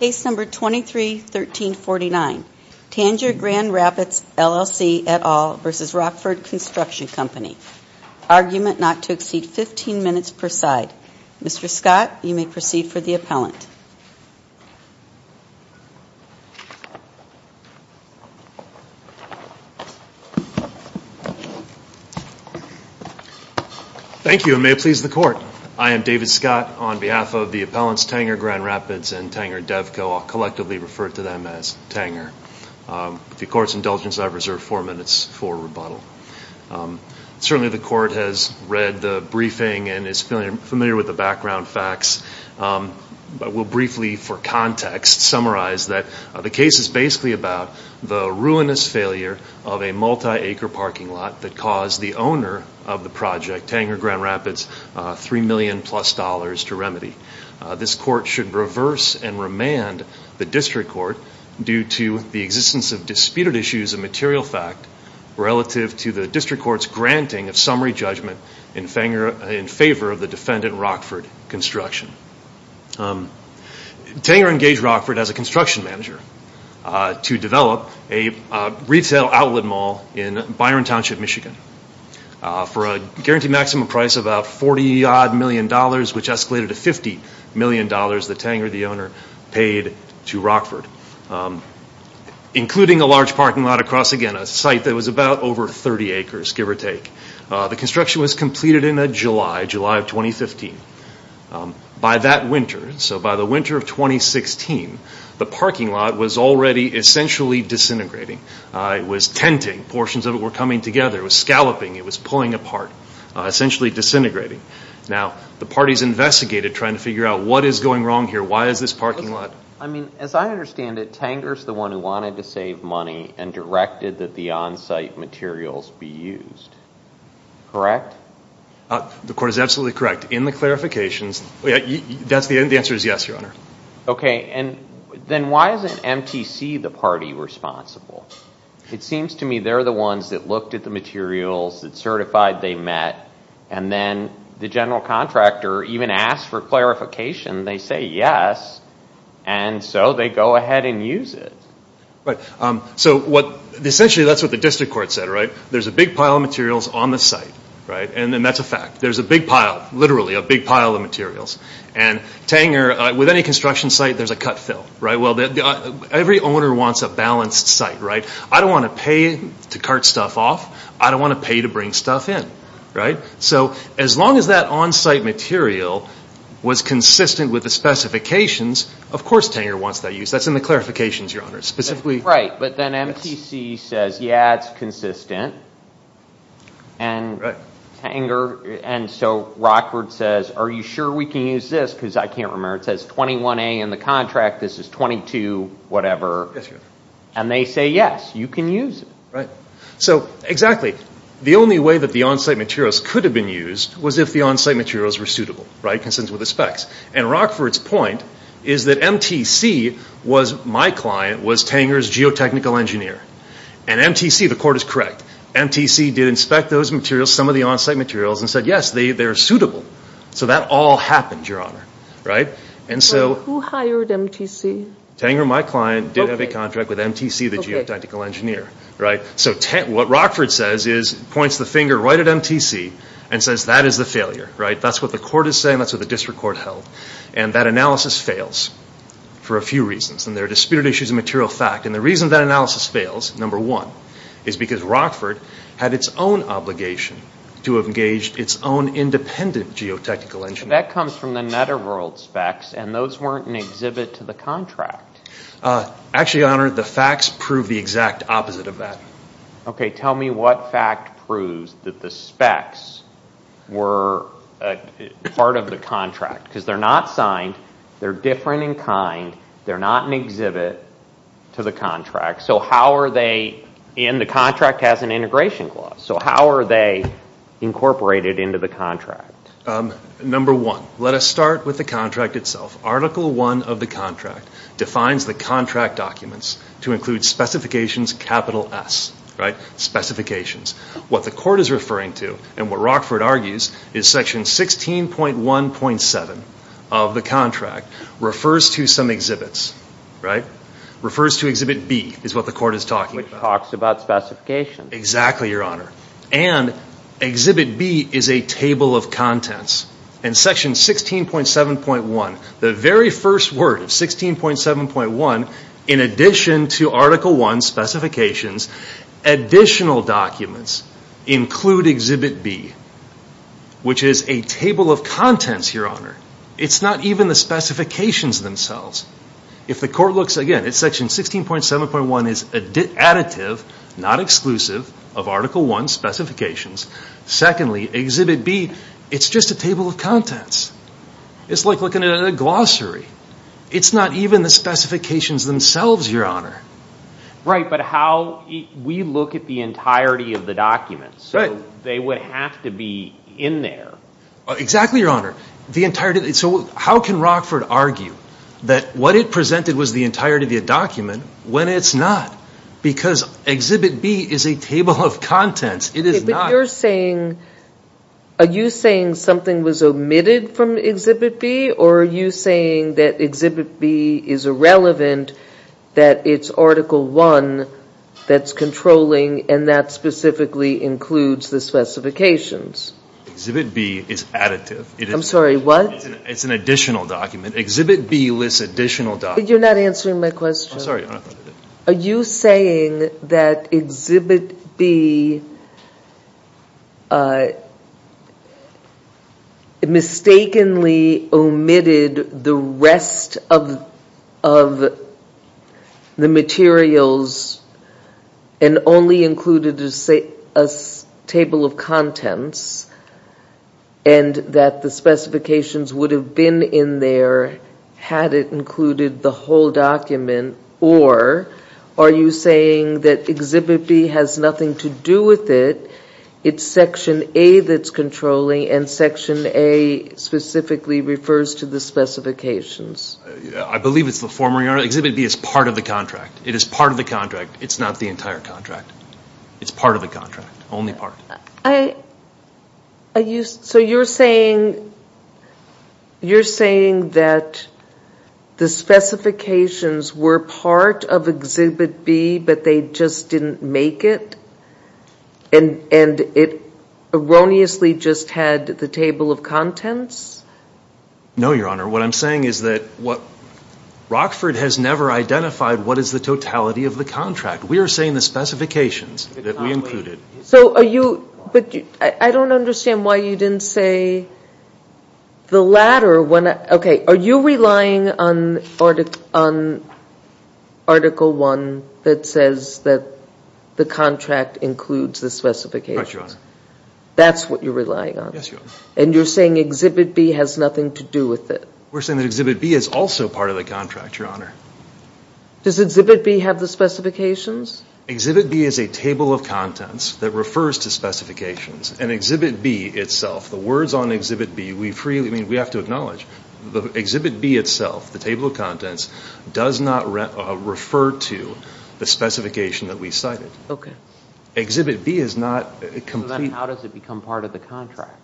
Case No. 23-1349 Tanger Grand Rapids LLC v. Rockford Construction Co Argument not to exceed 15 minutes per side Mr. Scott, you may proceed for the appellant Thank you and may it please the court I am David Scott on behalf of the appellants Tanger Grand Rapids and Tanger Devco. I'll collectively refer to them as Tanger With the court's indulgence I reserve four minutes for rebuttal Certainly the court has read the briefing and is familiar with the background facts I will briefly for context summarize that the case is basically about the ruinous failure of a multi-acre parking lot That caused the owner of the project, Tanger Grand Rapids, three million plus dollars to remedy This court should reverse and remand the district court due to the existence of disputed issues of material fact Relative to the district court's granting of summary judgment in favor of the defendant Rockford Construction Tanger engaged Rockford as a construction manager to develop a retail outlet mall in Byron Township, Michigan For a guaranteed maximum price of about 40 odd million dollars which escalated to 50 million dollars that Tanger, the owner, paid to Rockford Including a large parking lot across again a site that was about over 30 acres give or take The construction was completed in July of 2015 By that winter, so by the winter of 2016, the parking lot was already essentially disintegrating It was tenting, portions of it were coming together, it was scalloping, it was pulling apart, essentially disintegrating Now the parties investigated trying to figure out what is going wrong here, why is this parking lot I mean, as I understand it, Tanger is the one who wanted to save money and directed that the on-site materials be used Correct? The court is absolutely correct. In the clarifications, the answer is yes, your honor Okay, then why isn't MTC the party responsible? It seems to me they're the ones that looked at the materials, that certified they met And then the general contractor even asked for clarification, they say yes, and so they go ahead and use it Right, so essentially that's what the district court said, right? There's a big pile of materials on the site, right? And that's a fact There's a big pile, literally a big pile of materials And Tanger, with any construction site, there's a cut-fill, right? Every owner wants a balanced site, right? I don't want to pay to cart stuff off, I don't want to pay to bring stuff in, right? So as long as that on-site material was consistent with the specifications, of course Tanger wants that used That's in the clarifications, your honor Right, but then MTC says, yeah, it's consistent And so Rockford says, are you sure we can use this? Because I can't remember, it says 21A in the contract, this is 22 whatever And they say yes, you can use it So exactly, the only way that the on-site materials could have been used was if the on-site materials were suitable, right? Consistent with the specs And Rockford's point is that MTC, my client, was Tanger's geotechnical engineer And MTC, the court is correct, MTC did inspect those materials, some of the on-site materials, and said yes, they're suitable So that all happened, your honor Right, who hired MTC? Tanger, my client, did have a contract with MTC, the geotechnical engineer So what Rockford says is, points the finger right at MTC, and says that is the failure, right? That's what the court is saying, that's what the district court held And that analysis fails, for a few reasons And there are disputed issues of material fact And the reason that analysis fails, number one, is because Rockford had its own obligation To have engaged its own independent geotechnical engineer That comes from the Netterworld specs, and those weren't an exhibit to the contract Actually, your honor, the facts prove the exact opposite of that Okay, tell me what fact proves that the specs were part of the contract Because they're not signed, they're different in kind, they're not an exhibit to the contract So how are they, and the contract has an integration clause So how are they incorporated into the contract? Number one, let us start with the contract itself Article 1 of the contract defines the contract documents to include specifications, capital S Specifications, what the court is referring to, and what Rockford argues Is section 16.1.7 of the contract, refers to some exhibits Refers to exhibit B, is what the court is talking about Which talks about specifications Exactly, your honor, and exhibit B is a table of contents And section 16.7.1, the very first word of 16.7.1 In addition to article 1, specifications, additional documents Include exhibit B, which is a table of contents, your honor It's not even the specifications themselves If the court looks again, section 16.7.1 is additive, not exclusive Of article 1, specifications Secondly, exhibit B, it's just a table of contents It's like looking at a glossary It's not even the specifications themselves, your honor Right, but how, we look at the entirety of the documents So they would have to be in there Exactly, your honor, the entirety, so how can Rockford argue That what it presented was the entirety of the document, when it's not Because exhibit B is a table of contents, it is not Are you saying something was omitted from exhibit B Or are you saying that exhibit B is irrelevant That it's article 1 that's controlling And that specifically includes the specifications Exhibit B is additive I'm sorry, what? It's an additional document, exhibit B lists additional documents You're not answering my question Are you saying that exhibit B Mistakenly omitted the rest of the materials And only included a table of contents And that the specifications would have been in there Had it included the whole document Or are you saying that exhibit B has nothing to do with it It's section A that's controlling And section A specifically refers to the specifications I believe it's the former, exhibit B is part of the contract It is part of the contract, it's not the entire contract It's part of the contract, only part So you're saying that the specifications were part of exhibit B But they just didn't make it And it erroneously just had the table of contents No, your honor, what I'm saying is that Rockford has never identified what is the totality of the contract We are saying the specifications that we included So are you, I don't understand why you didn't say The latter, okay, are you relying on article 1 That says that the contract includes the specifications That's what you're relying on And you're saying exhibit B has nothing to do with it We're saying that exhibit B is also part of the contract, your honor Does exhibit B have the specifications Exhibit B is a table of contents that refers to specifications And exhibit B itself, the words on exhibit B, we have to acknowledge Exhibit B itself, the table of contents Does not refer to the specification that we cited Exhibit B is not Then how does it become part of the contract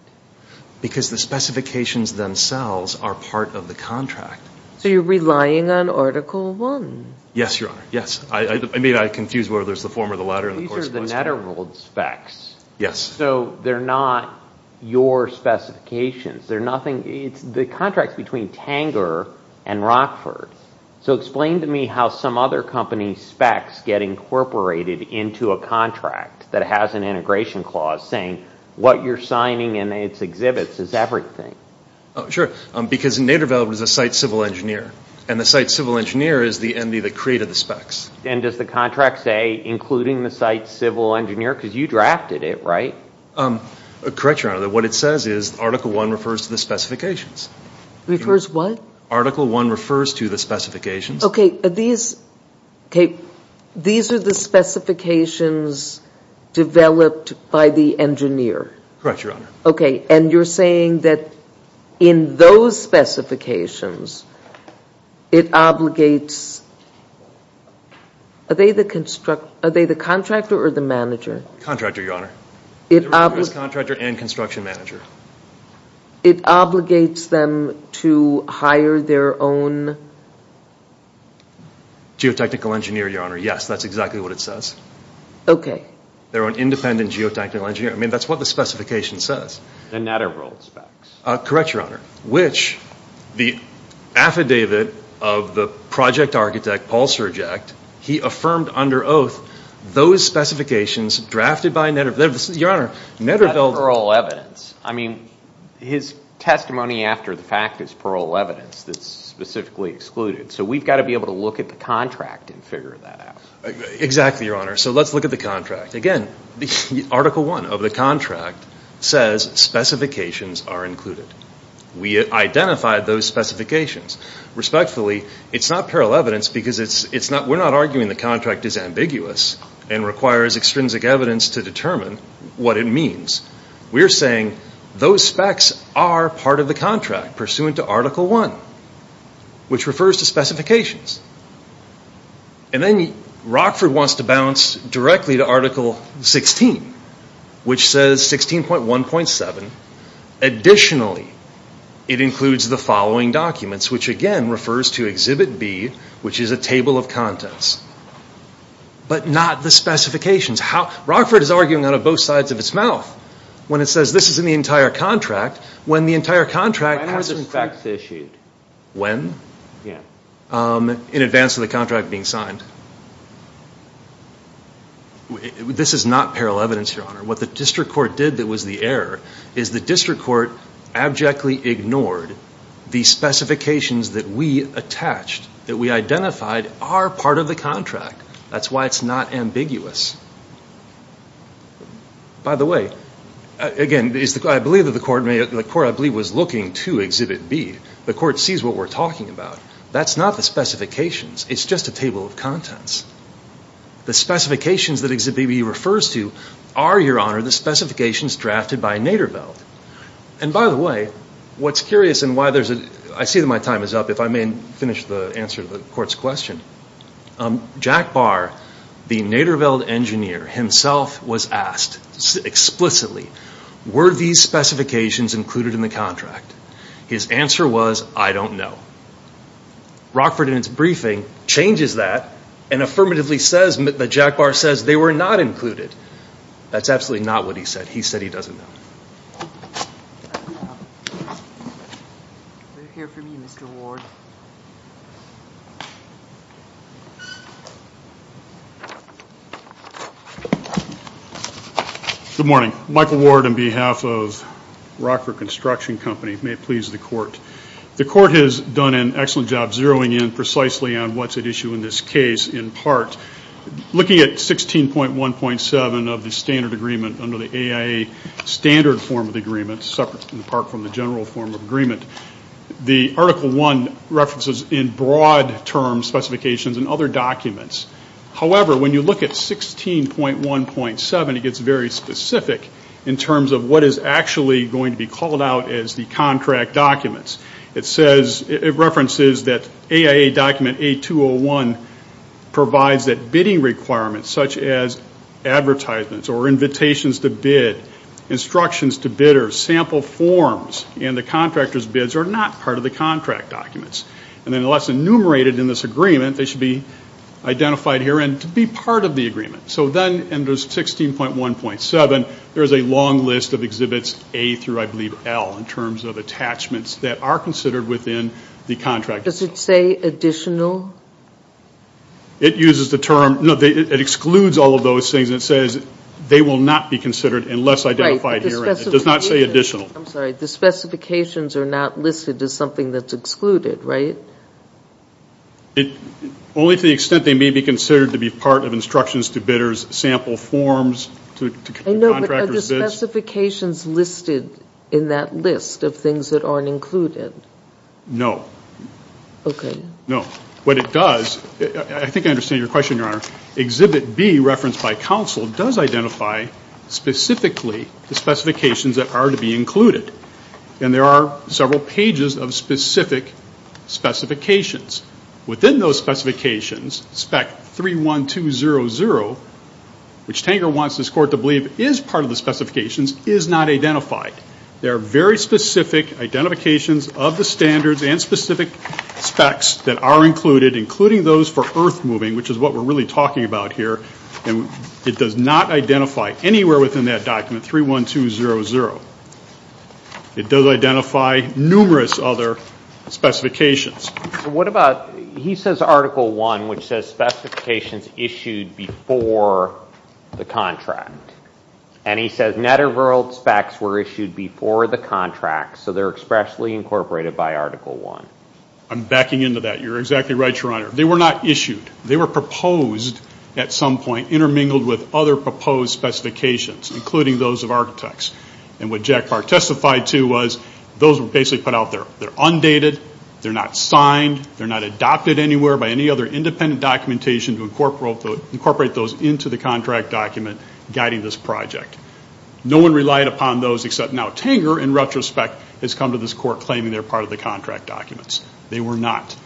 Because the specifications themselves are part of the contract So you're relying on article 1 Yes, your honor, yes I may have confused whether there's the former or the latter These are the Netterwald specs Yes So they're not your specifications They're nothing, the contract is between Tanger and Rockford So explain to me how some other company's specs Get incorporated into a contract That has an integration clause saying What you're signing in its exhibits is everything Sure, because Netterwald is a site civil engineer And the site civil engineer is the entity that created the specs And does the contract say Including the site civil engineer Because you drafted it, right Correct, your honor, what it says is Article 1 refers to the specifications Refers to what Article 1 refers to the specifications Okay, these are the specifications developed by the engineer Correct, your honor Okay, and you're saying that in those specifications It obligates Are they the contractor or the manager? Contractor, your honor It obligates It obligates them to hire their own Geotechnical engineer, your honor, yes That's exactly what it says Okay Their own independent geotechnical engineer I mean, that's what the specification says The Netterwald specs Correct, your honor Which the affidavit of the project architect Paul Surge He affirmed under oath Those specifications drafted by Netterwald Your honor, Netterwald That's parole evidence I mean, his testimony after the fact is parole evidence That's specifically excluded So we've got to be able to look at the contract And figure that out Exactly, your honor, so let's look at the contract Again, Article 1 of the contract Says specifications are included We identified those specifications Respectfully, it's not parole evidence Because we're not arguing the contract is ambiguous And requires extrinsic evidence to determine what it means We're saying those specs are part of the contract Pursuant to Article 1 Which refers to specifications And then Rockford wants to bounce directly to Article 16 Which says 16.1.7 Additionally, it includes the following documents Which again, refers to Exhibit B Which is a table of contents But not the specifications Rockford is arguing out of both sides of its mouth When it says this is in the entire contract When the entire contract has When are the specs issued? When? In advance of the contract being signed This is not parole evidence, your honor What the district court did that was the error Is the district court abjectly ignored The specifications that we attached That we identified are part of the contract That's why it's not ambiguous By the way Again, I believe the court was looking to Exhibit B The court sees what we're talking about That's not the specifications It's just a table of contents The specifications that Exhibit B refers to Are, your honor, the specifications Drafted by Naderveld And by the way, what's curious I see that my time is up If I may finish the answer to the court's question Jack Barr, the Naderveld engineer Himself was asked explicitly Were these specifications included in the contract? His answer was, I don't know Rockford in its briefing changes that And affirmatively says That Jack Barr says they were not included That's absolutely not what he said He said he doesn't know Good morning Michael Ward on behalf of Rockford Construction Company May it please the court The court has done an excellent job Zeroing in precisely on what's at issue in this case In part Looking at 16.1.7 of the standard agreement Under the AIA standard form of agreement Separate in part from the general form of agreement The Article 1 references in broad terms Specifications and other documents However, when you look at 16.1.7 It gets very specific In terms of what is actually going to be called out As the contract documents It says, it references that AIA document A201 Provides that bidding requirements Such as advertisements or invitations to bid Instructions to bidders Sample forms And the contractor's bids Are not part of the contract documents And unless enumerated in this agreement They should be identified here And be part of the agreement So then under 16.1.7 There's a long list of exhibits In terms of attachments That are considered within the contract itself Does it say additional? It uses the term No, it excludes all of those things It says they will not be considered Unless identified here It does not say additional I'm sorry, the specifications are not listed As something that's excluded, right? Only to the extent they may be considered To be part of instructions to bidders Sample forms To the contractor's bids Are the specifications listed In that list of things that aren't included? Okay No, what it does I think I understand your question, Your Honor Exhibit B referenced by counsel Does identify specifically The specifications that are to be included And there are several pages Of specific specifications Within those specifications Spec 31200 Which Tanger wants this court to believe Is part of the specifications Is not identified There are very specific identifications Of the standards and specific specs That are included Including those for earth moving Which is what we're really talking about here And it does not identify Anywhere within that document 31200 It does identify numerous other specifications So what about He says Article 1 Which says specifications issued Before the contract And he says net or rural specs Were issued before the contract So they're expressly incorporated By Article 1 I'm backing into that You're exactly right, Your Honor They were not issued They were proposed at some point Intermingled with other proposed specifications Including those of architects And what Jack Park testified to Was those were basically put out there They're undated They're not signed And we incorporate those Into the contract document Guiding this project No one relied upon those Except now Tanger in retrospect Has come to this court Claiming they're part of the contract documents They were not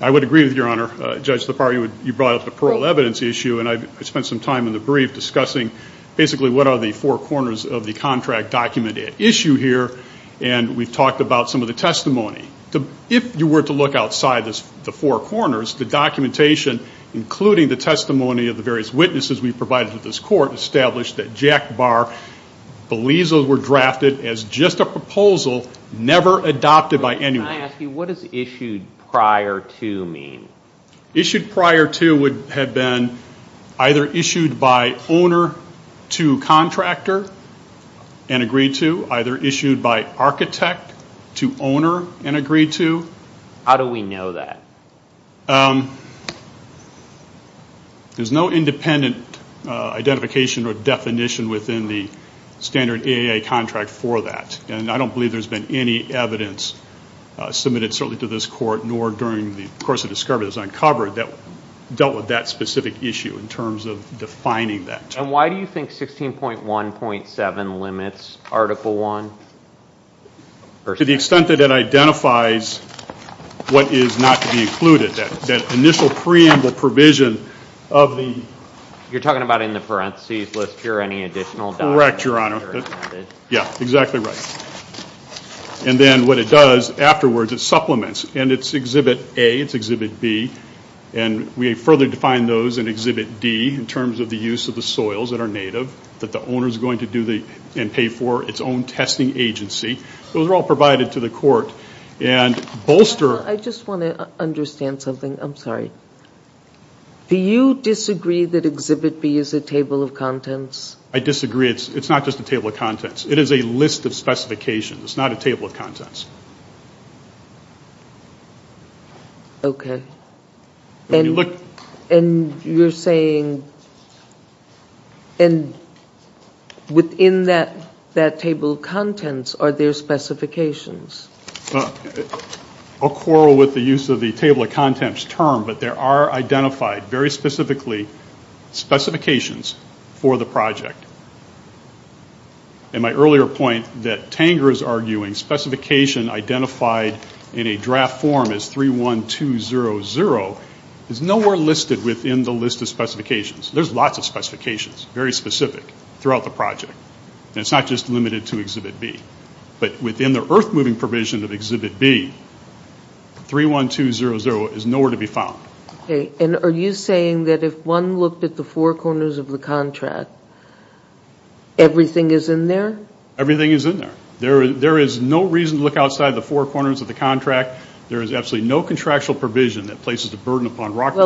I would agree with Your Honor Judge Lepar, you brought up the parole evidence issue And I spent some time in the brief Discussing basically what are the four corners Of the contract document at issue here And we've talked about some of the testimony If you were to look outside The testimony of the various witnesses We've provided to this court Established that Jack Park Believes those were drafted As just a proposal Never adopted by anyone Can I ask you, what does issued prior to mean? Issued prior to would have been Either issued by owner To contractor And agreed to Either issued by architect To owner and agreed to How do we know that? There's no independent Identification or definition Within the standard AAA contract for that And I don't believe there's been any evidence Submitted certainly to this court Nor during the course of discovery As I uncovered That dealt with that specific issue In terms of defining that And why do you think 16.1.7 limits Article 1? To the extent that it identifies What is not to be included That initial preamble provision Of the You're talking about in the parenthesis List here any additional Correct, your honor Yeah, exactly right And then what it does Afterwards it supplements And it's exhibit A It's exhibit B And we further define those In exhibit D In terms of the use of the soils That are native That the owner is going to do I don't understand something I'm sorry Do you disagree that exhibit B Is a table of contents? I disagree It's not just a table of contents It is a list of specifications It's not a table of contents Okay And you're saying And Within that Table of contents Are there specifications? I'll quarrel with the use Of the table of contents term But there are identified Very specifically Specifications For the project And my earlier point That Tanger is arguing Specification identified In a draft form Is 31200 Is nowhere listed Within the list of specifications There's lots of specifications Very specific throughout the project But within the receiving Provision of exhibit B 31200 is nowhere to be found Okay And are you saying That if one looked at the Four corners of the contract Everything is in there? Everything is in there There is no reason to look Outside of the four corners Of the contract There is absolutely no Contractual provision That places a burden On the project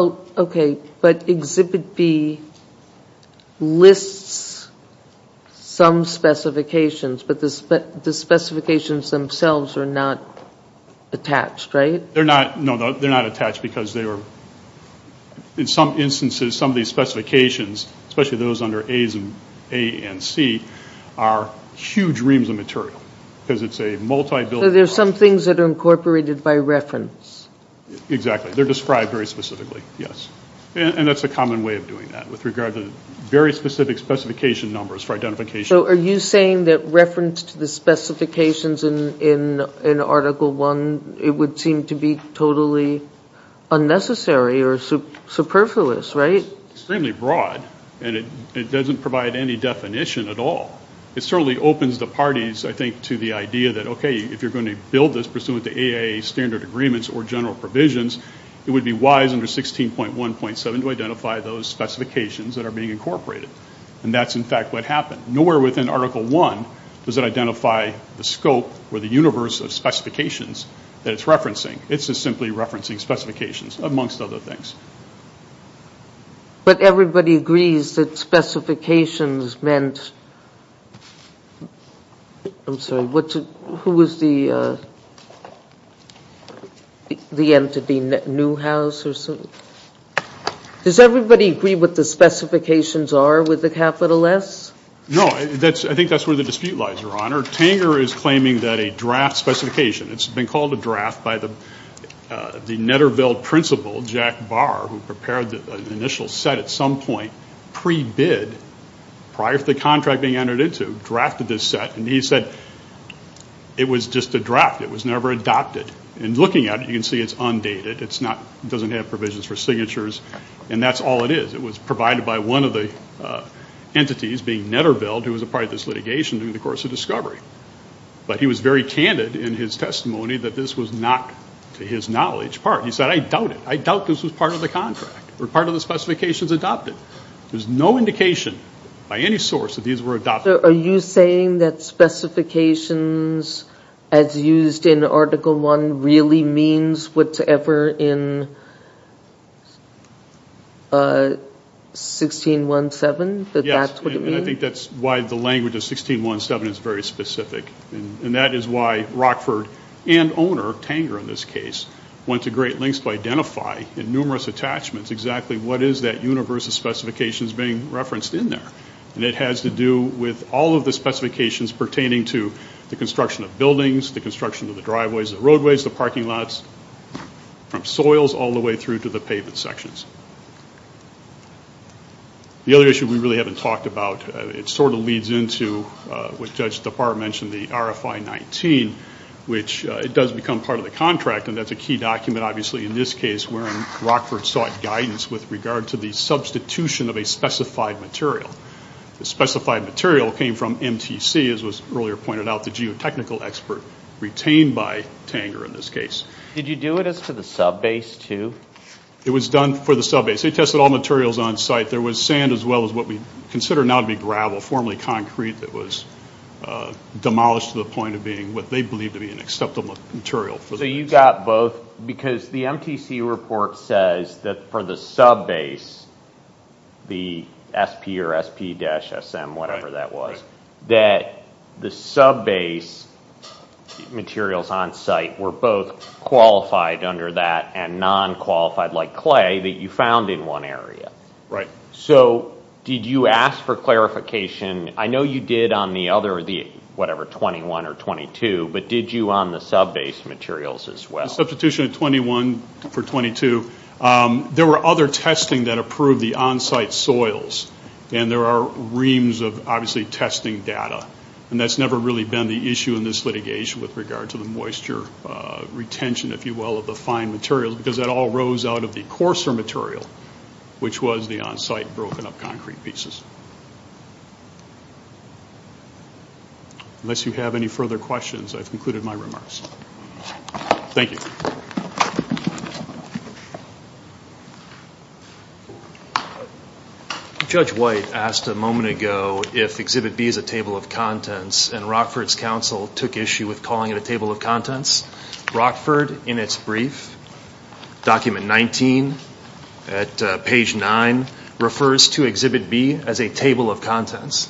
Attached, right? No, they're not attached Because they are In some instances Some of these specifications Especially those under A and C Are huge reams of material Because it's a multi-billion So there are some things That are incorporated In Article I It would seem to be Totally unnecessary Or superfluous, right? It's extremely broad And it doesn't provide Any definition at all It certainly opens the parties I think to the idea That okay, if you're going To build this Pursuant to AIA standard Agreements or general provisions It would be wise Under 16.1.7 To have some Specifications That it's referencing It's just simply Referencing specifications Amongst other things But everybody agrees That specifications meant I'm sorry Who was the The entity Newhouse or something? Does everybody agree What the specifications are With the capital S? Specification It's been called a draft By the Netterveld principal Jack Barr Who prepared the initial set At some point Pre-bid Prior to the contract being Entered into Drafted this set And he said It was just a draft It was never adopted And looking at it You can see it's undated In his testimony That this was not To his knowledge part He said I doubt it I doubt this was part of the contract Or part of the specifications adopted There's no indication By any source That these were adopted Are you saying That specifications As used in article 1 Really means Whatever in 16.1.7 And owner Tanger in this case Went to great lengths To identify In numerous attachments Exactly what is that Universe of specifications Being referenced in there And it has to do With all of the specifications Pertaining to the construction Of buildings The construction of the Driveways and roadways The parking lots Which it does become Part of the contract And that's a key document Obviously in this case Where Rockford sought guidance With regard to the substitution Of a specified material The specified material Came from MTC As was earlier pointed out The geotechnical expert Retained by Tanger in this case Did you do it As for the sub-base too It was done for the sub-base Except the material So you got both Because the MTC report says That for the sub-base The SP or SP-SM Whatever that was That the sub-base Materials on site Were both Qualified under that And non-qualified like clay That you found in one area Right So did you ask for clarification I know you did on the other Sub-base materials as well Substitution of 21 for 22 There were other testing That approved the on-site soils And there are reams Of obviously testing data And that's never really been The issue in this litigation With regard to the moisture Retention if you will Of the fine materials Because that all rose out Of the coarser material Which was the on-site Broken up concrete pieces Thank you Judge White asked a moment ago If Exhibit B is a table of contents And Rockford's counsel Took issue with calling it A table of contents Rockford in its brief Document 19 At page 9 Refers to Exhibit B As a table of contents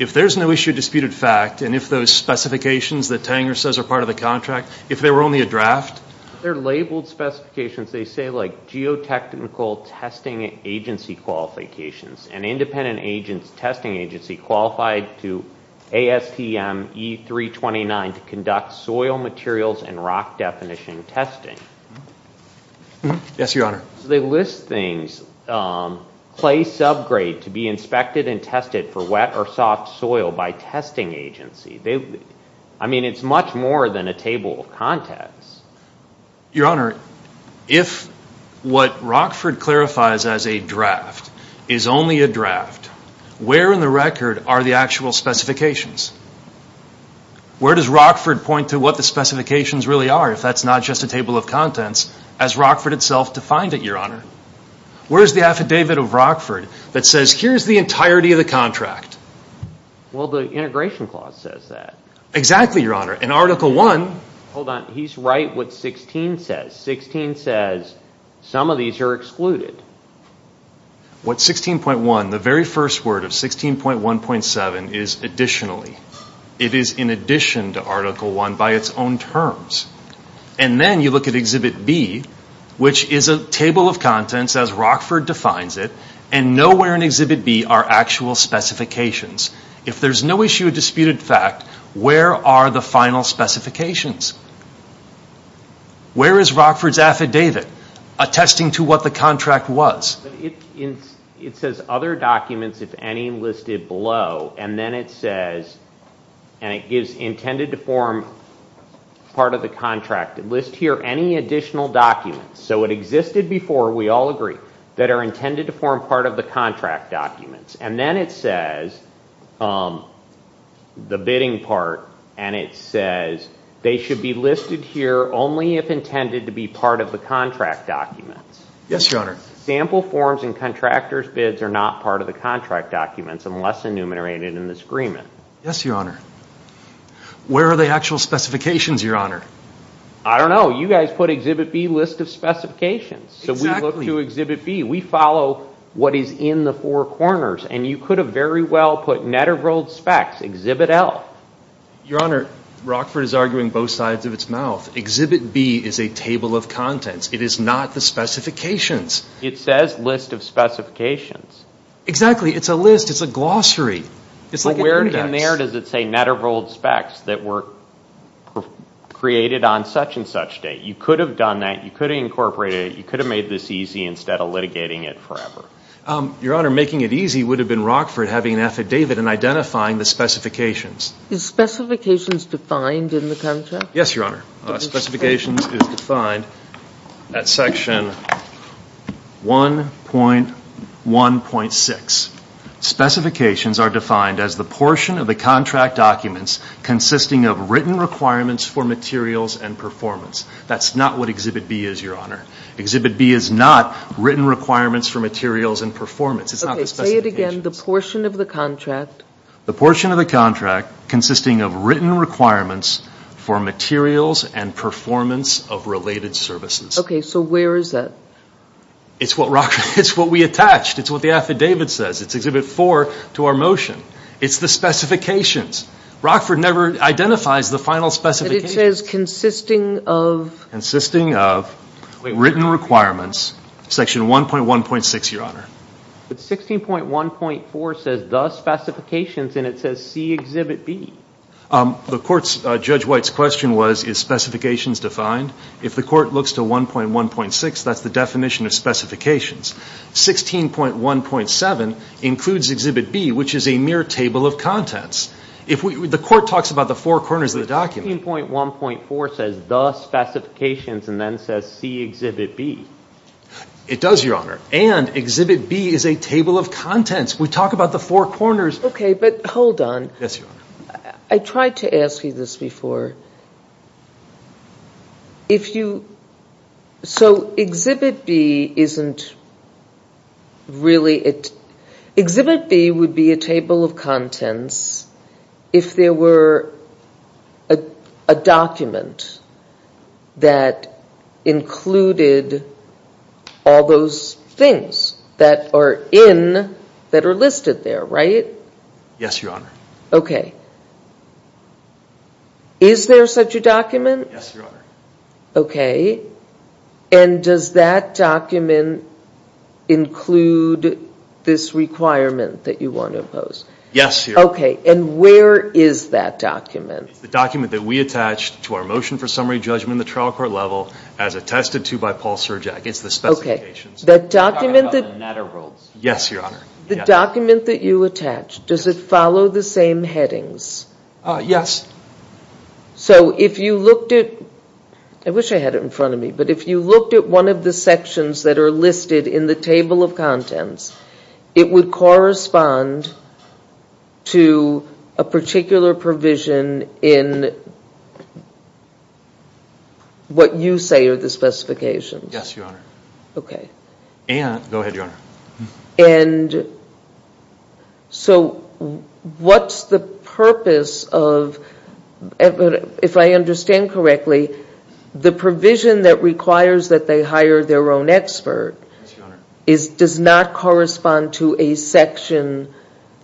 If there's no issue If it's a disputed fact And if those specifications That Tanger says are part of the contract If they were only a draft They're labeled specifications They say like geotechnical Testing agency qualifications An independent testing agency Qualified to ASTM E329 To conduct soil materials And rock definition testing Yes your honor They list things Clay subgrade To be inspected and tested By a testing agency I mean it's much more Than a table of contents Your honor If what Rockford clarifies As a draft Is only a draft Where in the record Are the actual specifications Where does Rockford point to What the specifications really are If that's not just a table of contents As Rockford itself defined it Where is the affidavit of Rockford That says here's the entirety Of what the integration clause says Exactly your honor And article 1 Hold on he's right what 16 says 16 says some of these are excluded What 16.1 The very first word of 16.1.7 Is additionally It is in addition to article 1 By it's own terms And then you look at exhibit B Which is a table of contents As Rockford defines it And nowhere in exhibit B Are actual specifications And that's a disputed fact Where are the final specifications Where is Rockford's affidavit Attesting to what the contract was It says other documents If any listed below And then it says And it gives intended to form Part of the contract List here any additional documents So it existed before We all agree That are intended to form Part of the contract documents The bidding part And it says They should be listed here Only if intended to be part of the contract documents Yes your honor Sample forms and contractors bids Are not part of the contract documents Unless enumerated in this agreement Yes your honor Where are the actual specifications your honor I don't know you guys put Exhibit B list of specifications So we look to exhibit B We follow what is in the four corners And you could have very well Put exhibit L Your honor Rockford is arguing both sides of its mouth Exhibit B is a table of contents It is not the specifications It says list of specifications Exactly it's a list It's a glossary But where in there does it say Net of old specs that were Created on such and such date You could have done that You could have incorporated it You could have made this easy Instead of litigating it forever It's the specifications Is specifications defined in the contract Yes your honor Specifications is defined At section 1.1.6 Specifications are defined as The portion of the contract documents Consisting of written requirements For materials and performance That's not what exhibit B is your honor Exhibit B is not written requirements For materials and performance It's not the specifications Say it again the portion of the contract Consisting of written requirements For materials and performance Of related services Okay so where is that It's what we attached It's what the affidavit says It's exhibit 4 to our motion It's the specifications Rockford never identifies The final specifications But it says consisting of Consisting of written requirements Section 1.1.6 your honor But 16.1.4 says the specifications And it says see exhibit B Judge White's question was Is specifications defined If the court looks to 1.1.6 That's the definition of specifications 16.1.7 includes exhibit B Which is a mere table of contents The court talks about The four corners of the document 16.1.4 says the specifications And then says see exhibit B It does your honor And exhibit B is a table of contents We talk about the four corners Okay but hold on Yes your honor I tried to ask you this before If you So exhibit B isn't Really Exhibit B would be a table of contents If there were A document That included All those things That are in That are listed there right Yes your honor Okay Is there such a document Yes your honor Okay and does that document Include This requirement that you want to impose Yes your honor Okay and where is that document It's the document that we attached To our motion for summary judgment At the trial court level As attested to by Paul Surjack It's the specifications That document Yes your honor The document that you attached Does it follow the same headings Yes So if you looked at I wish I had it in front of me But if you looked at one of the sections That are listed in the table of contents It would correspond To A particular provision In What you say are the specifications Yes your honor Okay And So What's the purpose of If I understand correctly The provision that requires That they hire their own expert Yes your honor Does not correspond to a section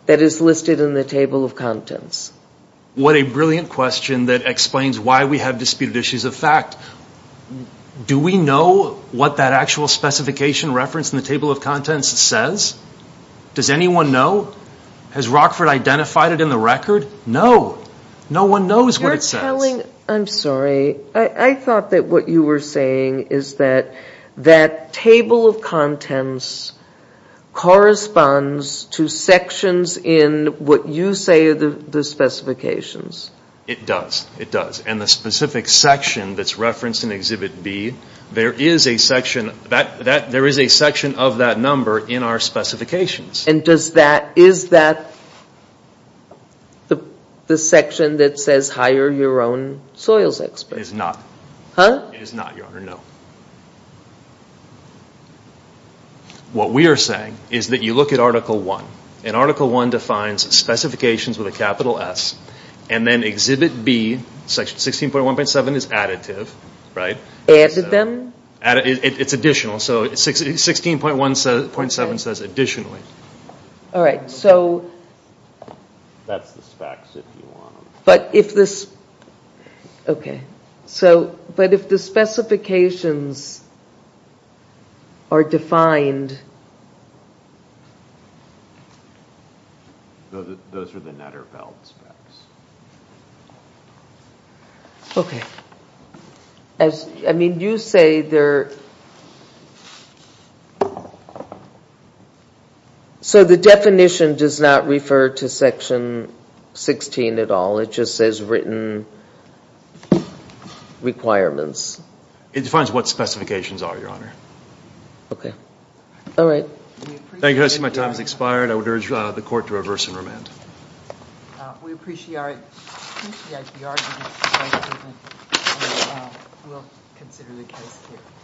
That is listed in the table of contents What a brilliant question That explains why we have Disputed issues of fact Do we know What that actual specification Reference in the table of contents says Does anyone know Has Rockford identified it in the record No No one knows what it says I'm sorry I thought that what you were saying Is that That table of contents Corresponds To sections in What you say are the specifications It does It is referenced in exhibit B There is a section There is a section of that number In our specifications And does that Is that The section that says Hire your own soils expert It is not It is not your honor What we are saying Is that you look at article 1 And article 1 defines Specifications with a capital S And then exhibit B Right Added them It is additional 16.1.7 says additionally Alright so That is the specs But if this Okay But if the specifications Are defined Those are the Netterfeld specs Okay I mean you say So the definition does not refer to section 16 at all It just says written Requirements It defines what specifications are your honor Okay Alright I see my time has expired I would urge the court to reverse and remand We appreciate The argument We will consider the case here